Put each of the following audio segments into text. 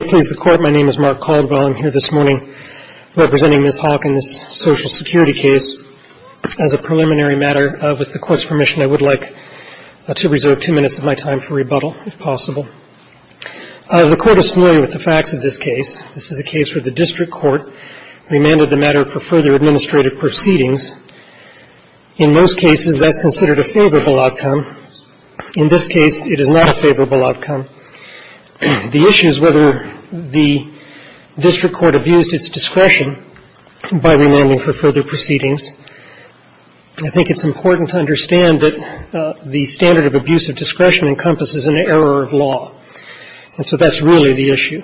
Please, the Court, my name is Mark Caldwell. I'm here this morning representing Ms. Hawke in this Social Security case. As a preliminary matter, with the Court's permission, I would like to reserve two minutes of my time for rebuttal, if possible. The Court is familiar with the facts of this case. This is a case where the district court remanded the matter for further administrative proceedings. In most cases, that's considered a favorable outcome. In this case, it is not a favorable outcome. The issue is whether the district court abused its discretion by remanding for further proceedings. I think it's important to understand that the standard of abuse of discretion encompasses an error of law. And so that's really the issue.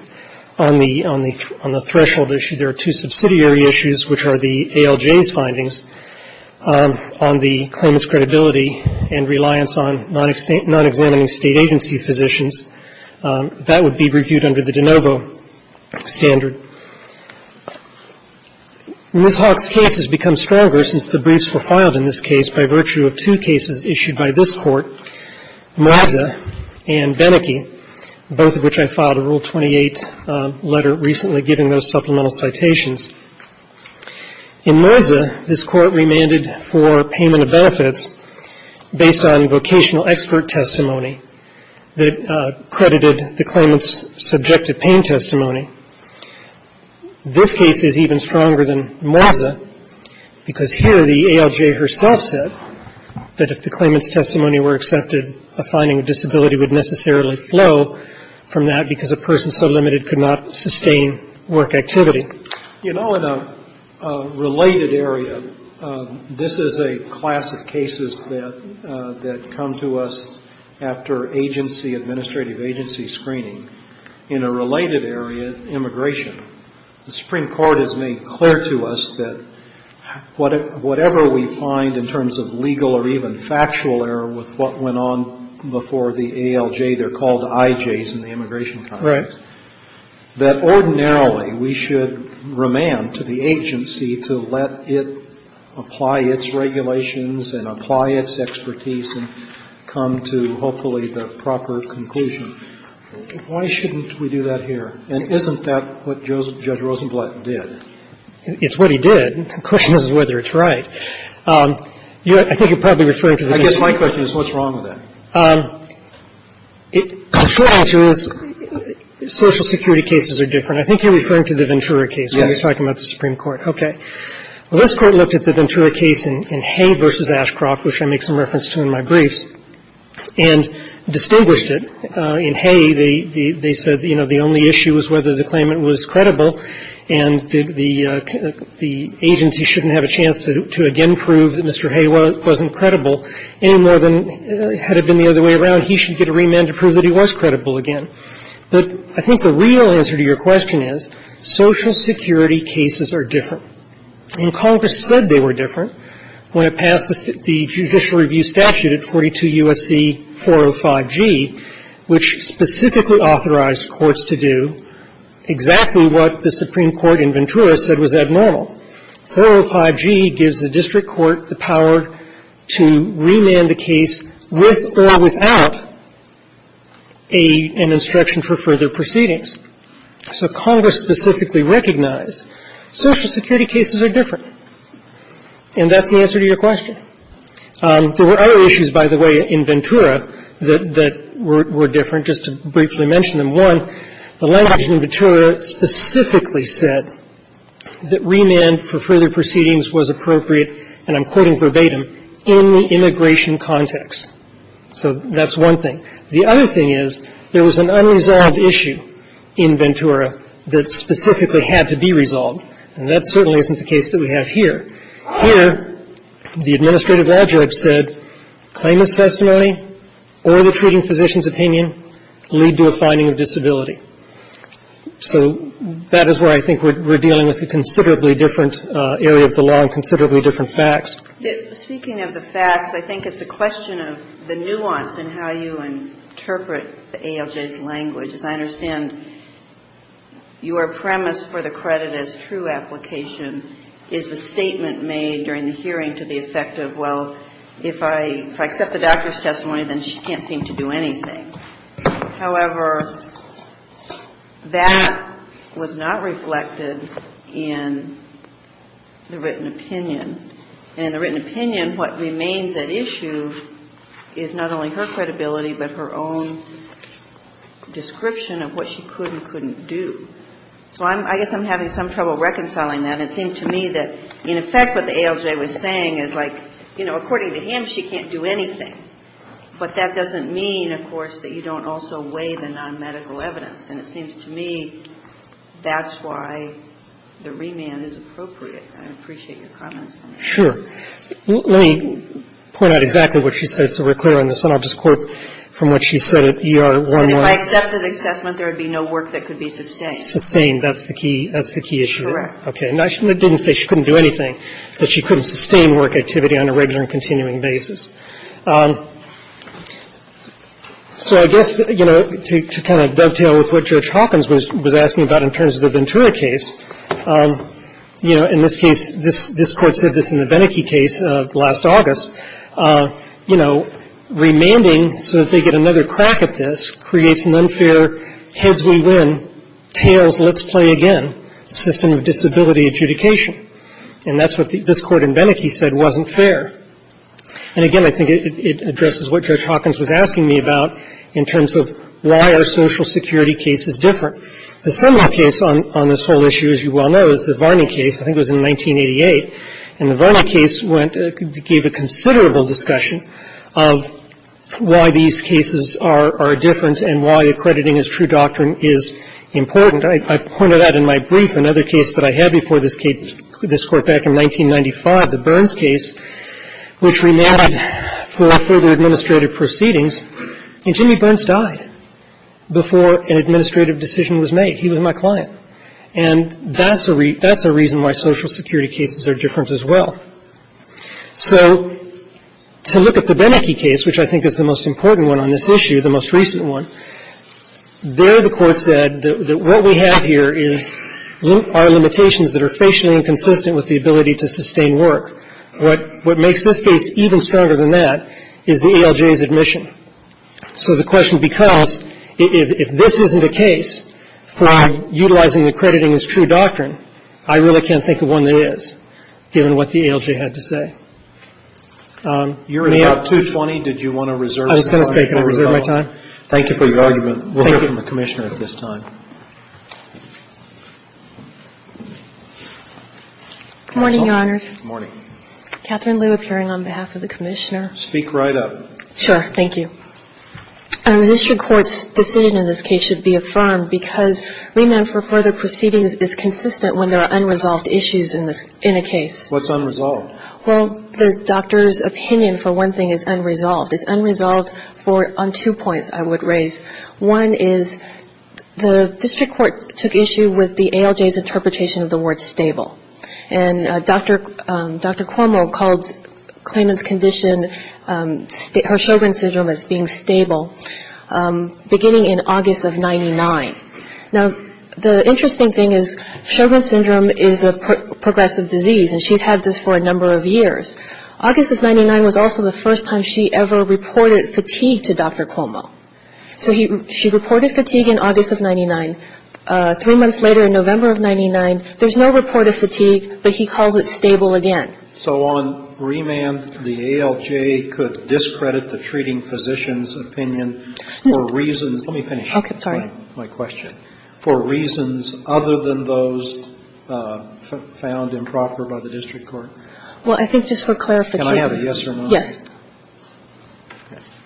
On the threshold issue, there are two subsidiary issues, which are the ALJ's findings, on the claimant's credibility and reliance on nonexamining State agency physicians. That would be reviewed under the de novo standard. Ms. Hawke's case has become stronger since the briefs were filed in this case by virtue of two cases issued by this Court, Moza and Beneke, both of which I filed a Rule 28 letter recently giving those supplemental citations. In Moza, this Court remanded for payment of benefits based on vocational expert testimony that credited the claimant's subjective pain testimony. This case is even stronger than Moza because here the ALJ herself said that if the claimant's testimony were accepted, a finding of disability would necessarily flow from that because a person so limited could not sustain work activity. You know, in a related area, this is a class of cases that come to us after agency, administrative agency screening, in a related area, immigration. The Supreme Court has made clear to us that whatever we find in terms of legal or even factual error with what went on before the ALJ, they're called IJs in the immigration context, that ordinarily we should remand to the agency to let it apply its regulations and apply its expertise and come to, hopefully, the proper conclusion. Why shouldn't we do that here? And isn't that what Judge Rosenblatt did? It's what he did. The question is whether it's right. I think you're probably referring to the next one. I guess my question is what's wrong with that? The short answer is Social Security cases are different. I think you're referring to the Ventura case when you're talking about the Supreme Court. Okay. Well, this Court looked at the Ventura case in Hay v. Ashcroft, which I make some reference to in my briefs, and distinguished it. In Hay, they said, you know, the only issue was whether the claimant was credible and the agency shouldn't have a chance to again prove that Mr. Hay wasn't credible any more than had it been the other way around. He should get a remand to prove that he was credible again. But I think the real answer to your question is Social Security cases are different. And Congress said they were different when it passed the judicial review statute at 42 U.S.C. 405G, which specifically authorized courts to do exactly what the Supreme Court in Ventura said was abnormal. 405G gives the district court the power to remand a case with or without an instruction for further proceedings. So Congress specifically recognized Social Security cases are different. And that's the answer to your question. There were other issues, by the way, in Ventura that were different, just to briefly mention them. One, the language in Ventura specifically said that remand for further proceedings was appropriate, and I'm quoting verbatim, in the immigration context. So that's one thing. The other thing is there was an unresolved issue in Ventura that specifically had to be resolved. And that certainly isn't the case that we have here. Here, the administrative law judge said claimant's testimony or the treating physician's opinion lead to a finding of disability. So that is where I think we're dealing with a considerably different area of the law and considerably different facts. Speaking of the facts, I think it's a question of the nuance in how you interpret the ALJ's language. As I understand, your premise for the credit as true application is the statement made during the hearing to the effect of, well, if I accept the doctor's testimony, then she can't seem to do anything. However, that was not reflected in the written opinion. And in the written opinion, what remains at issue is not only her credibility, but her own description of what she could and couldn't do. So I guess I'm having some trouble reconciling that. It seemed to me that in effect what the ALJ was saying is like, you know, according to him, she can't do anything. But that doesn't mean, of course, that you don't also weigh the nonmedical evidence. And it seems to me that's why the remand is appropriate. I appreciate your comments on that. Sure. Let me point out exactly what she said so we're clear on this. And I'll just quote from what she said at ER11. If I accept his assessment, there would be no work that could be sustained. Sustained. That's the key. That's the key issue. Correct. Okay. And I didn't say she couldn't do anything, that she couldn't sustain work activity on a regular and continuing basis. So I guess, you know, to kind of dovetail with what Judge Hawkins was asking about in terms of the Ventura case, you know, in this case, this Court said this in the Beneke case last August, you know, remanding so that they get another crack at this creates an unfair heads-we-win, tails-let's-play-again system of disability adjudication. And that's what this Court in Beneke said wasn't fair. And again, I think it addresses what Judge Hawkins was asking me about in terms of why are Social Security cases different. The seminal case on this whole issue, as you well know, is the Varney case. I think it was in 1988. And the Varney case went to give a considerable discussion of why these cases are different and why accrediting as true doctrine is important. I pointed out in my brief another case that I had before this case, this Court back in 1995, the Burns case, which remanded for further administrative proceedings. And Jimmy Burns died before an administrative decision was made. He was my client. And that's a reason why Social Security cases are different as well. So to look at the Beneke case, which I think is the most important one on this issue, the most recent one, there the Court said that what we have here is our limitations that are facially inconsistent with the ability to sustain work. What makes this case even stronger than that is the ALJ's admission. So the question becomes, if this isn't a case for utilizing accrediting as true doctrine, I really can't think of one that is, given what the ALJ had to say. May I? Roberts. You're at about 2.20. Did you want to reserve some time? I was going to say, can I reserve my time? Thank you for your argument. Thank you. We'll hear from the Commissioner at this time. Good morning, Your Honors. Good morning. Catherine Liu appearing on behalf of the Commissioner. Speak right up. Sure. Thank you. An administrative court's decision in this case should be affirmed because remand for further proceedings is consistent when there are unresolved issues in a case. What's unresolved? Well, the doctor's opinion for one thing is unresolved. It's unresolved on two points I would raise. One is the district court took issue with the ALJ's interpretation of the word stable. And Dr. Cuomo called Klayman's condition, her Sjogren's Syndrome as being stable, beginning in August of 99. Now, the interesting thing is Sjogren's Syndrome is a progressive disease, and she's had this for a number of years. August of 99 was also the first time she ever reported fatigue to Dr. Cuomo. So she reported fatigue in August of 99. Three months later, in November of 99, there's no report of fatigue, but he calls it stable again. So on remand, the ALJ could discredit the treating physician's opinion for reasons Let me finish. Okay. Sorry. My question. For reasons other than those found improper by the district court? Well, I think just for clarification. Can I have a yes or no? Yes.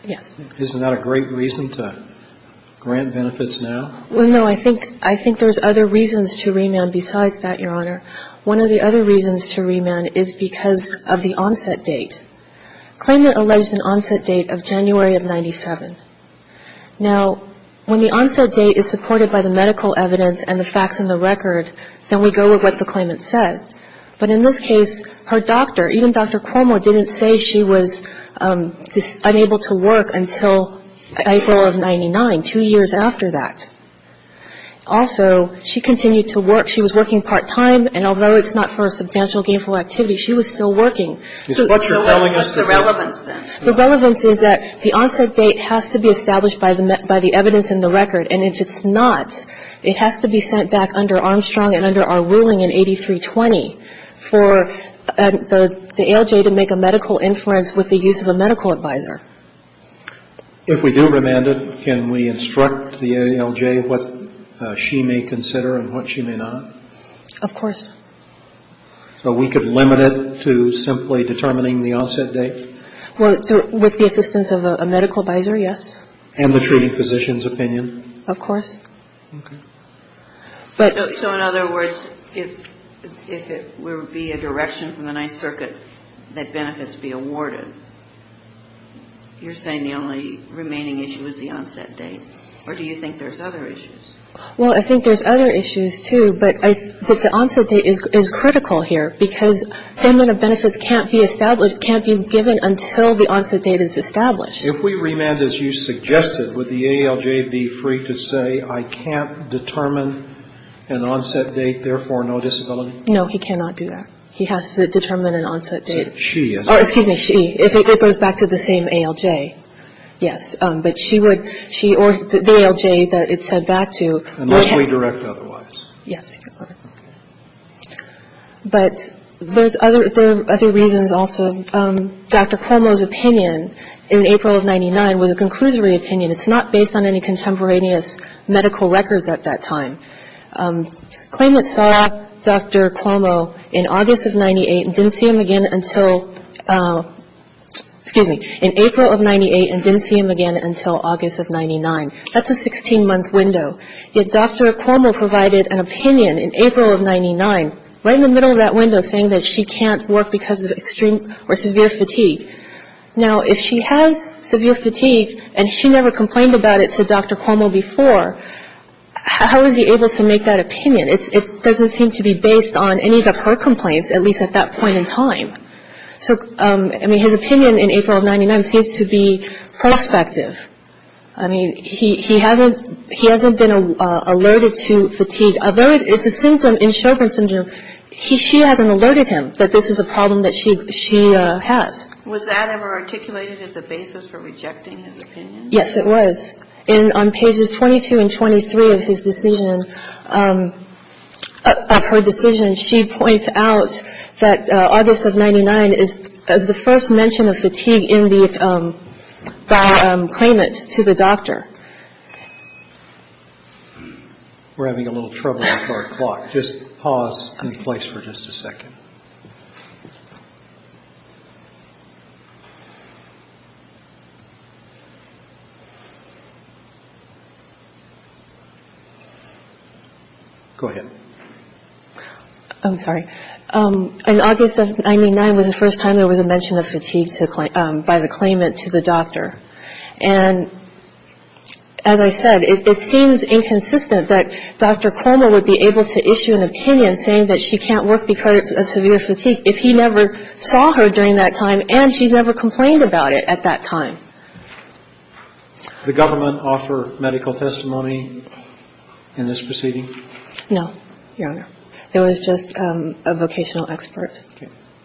Yes. Isn't that a great reason to grant benefits now? Well, no. I think there's other reasons to remand besides that, Your Honor. One of the other reasons to remand is because of the onset date. Klayman alleged an onset date of January of 97. Now, when the onset date is supported by the medical evidence and the facts in the record, then we go with what the Klayman said. But in this case, her doctor, even Dr. Cuomo, didn't say she was unable to work until April of 99, two years after that. Also, she continued to work. She was working part-time, and although it's not for a substantial gainful activity, she was still working. So what's the relevance then? The relevance is that the onset date has to be established by the evidence in the record. And if it's not, it has to be sent back under Armstrong and under our ruling in 8320 for the ALJ to make a medical inference with the use of a medical advisor. If we do remand it, can we instruct the ALJ what she may consider and what she may not? Of course. So we could limit it to simply determining the onset date? Well, with the assistance of a medical advisor, yes. And the treating physician's opinion? Of course. Okay. So in other words, if it were to be a direction from the Ninth Circuit that benefits be awarded, you're saying the only remaining issue is the onset date? Or do you think there's other issues? Well, I think there's other issues, too, but the onset date is critical here because payment of benefits can't be established, can't be given until the onset date is established. If we remand, as you suggested, would the ALJ be free to say, I can't determine an onset date, therefore no disability? No, he cannot do that. He has to determine an onset date. She has to. Excuse me, she. If it goes back to the same ALJ, yes. But she would, she or the ALJ that it's set back to. Unless we direct otherwise. Yes, Your Honor. Okay. But there's other reasons also. Dr. Cuomo's opinion in April of 99 was a conclusory opinion. It's not based on any contemporaneous medical records at that time. Claim that saw Dr. Cuomo in August of 98 and didn't see him again until, excuse me, in April of 98 and didn't see him again until August of 99. That's a 16-month window. Yet Dr. Cuomo provided an opinion in April of 99, right in the middle of that window, saying that she can't work because of extreme or severe fatigue. Now, if she has severe fatigue and she never complained about it to Dr. Cuomo before, how is he able to make that opinion? It doesn't seem to be based on any of her complaints, at least at that point in time. So, I mean, his opinion in April of 99 seems to be prospective. I mean, he hasn't been alerted to fatigue. Although it's a symptom in Sjogren's syndrome, she hasn't alerted him that this is a problem that she has. Was that ever articulated as a basis for rejecting his opinion? Yes, it was. And on pages 22 and 23 of his decision, of her decision, she points out that August of 99 is the first mention of fatigue in the, by claimant to the doctor. We're having a little trouble with our clock. Just pause in place for just a second. Go ahead. I'm sorry. In August of 99 was the first time there was a mention of fatigue by the claimant to the doctor. And as I said, it seems inconsistent that Dr. Cuomo would be able to issue an opinion saying that she can't work because of severe fatigue if he never saw her during that time and she never complained about it at that time. The government offer medical testimony in this proceeding? No, Your Honor. There was just a vocational expert.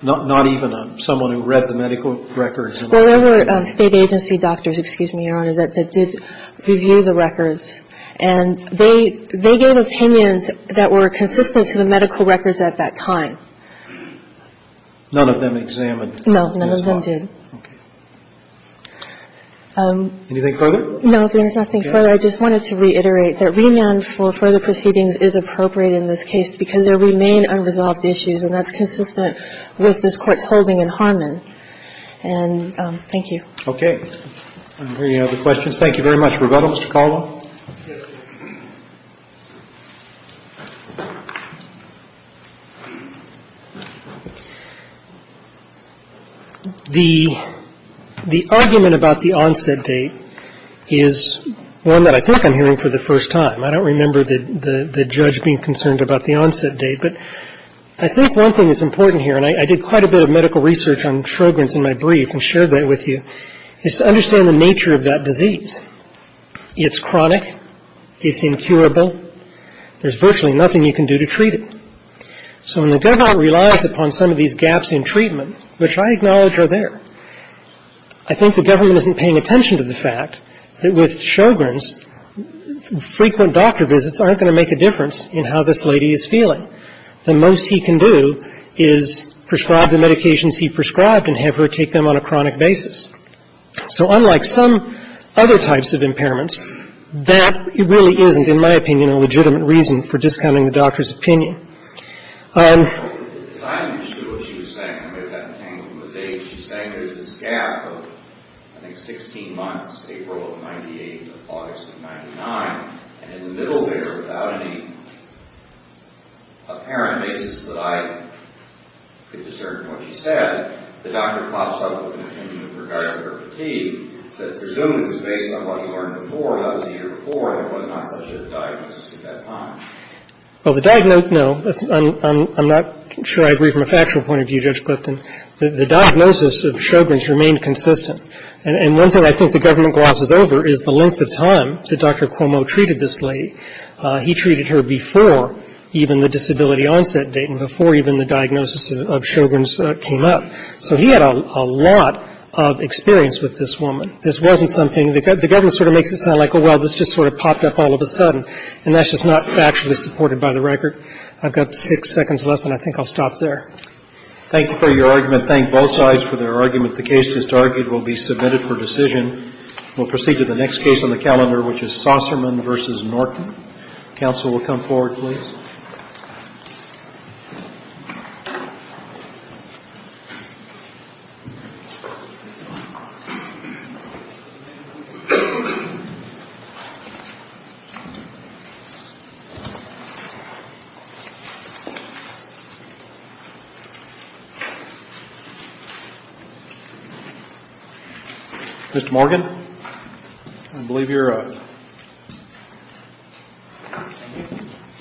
Not even someone who read the medical records? Well, there were state agency doctors, excuse me, Your Honor, that did review the records. And they gave opinions that were consistent to the medical records at that time. None of them examined? No, none of them did. Okay. Anything further? No, there's nothing further. I just wanted to reiterate that remand for further proceedings is appropriate in this case because there remain unresolved issues, and that's consistent with this Court's holding in Harmon. And thank you. Okay. Any other questions? Thank you very much. Rebuttal, Mr. Caldwell. The argument about the onset date is one that I think I'm hearing for the first time. I don't remember the judge being concerned about the onset date, but I think one thing that's important here, and I did quite a bit of medical research on Sjogren's in my brief and shared that with you, is to understand the nature of that disease. It's chronic. It's incurable. There's virtually nothing you can do to treat it. So when the government relies upon some of these gaps in treatment, which I acknowledge are there, I think the government isn't paying attention to the fact that with Sjogren's, frequent doctor visits aren't going to make a difference in how this lady is feeling. The most he can do is prescribe the medications he prescribed and have her take them on a chronic basis. So unlike some other types of impairments, that really isn't, in my opinion, a legitimate reason for discounting the doctor's opinion. I'm not entirely sure what she was saying. I may have got the hang of the date. She's saying there's this gap of, I think, 16 months, April of 98 and August of 99, and in the middle there, without any apparent basis that I could discern from what she said, the doctor pops up with an opinion with regard to her fatigue that presumably was based on what he learned before and that was a year before and it was not such a diagnosis at that time. Well, the diagnosis, no, I'm not sure I agree from a factual point of view, Judge Clifton. The diagnosis of Sjogren's remained consistent. And one thing I think the government glosses over is the length of time that Dr. Cuomo treated this lady. He treated her before even the disability onset date and before even the diagnosis of Sjogren's came up. So he had a lot of experience with this woman. This wasn't something, the government sort of makes it sound like, oh, well, this just sort of popped up all of a sudden. And that's just not factually supported by the record. I've got six seconds left and I think I'll stop there. Thank you for your argument. Thank both sides for their argument. The case just argued will be submitted for decision. We'll proceed to the next case on the calendar, which is Saucerman v. Norton. Counsel will come forward, please. Mr. Morgan, I believe you're up.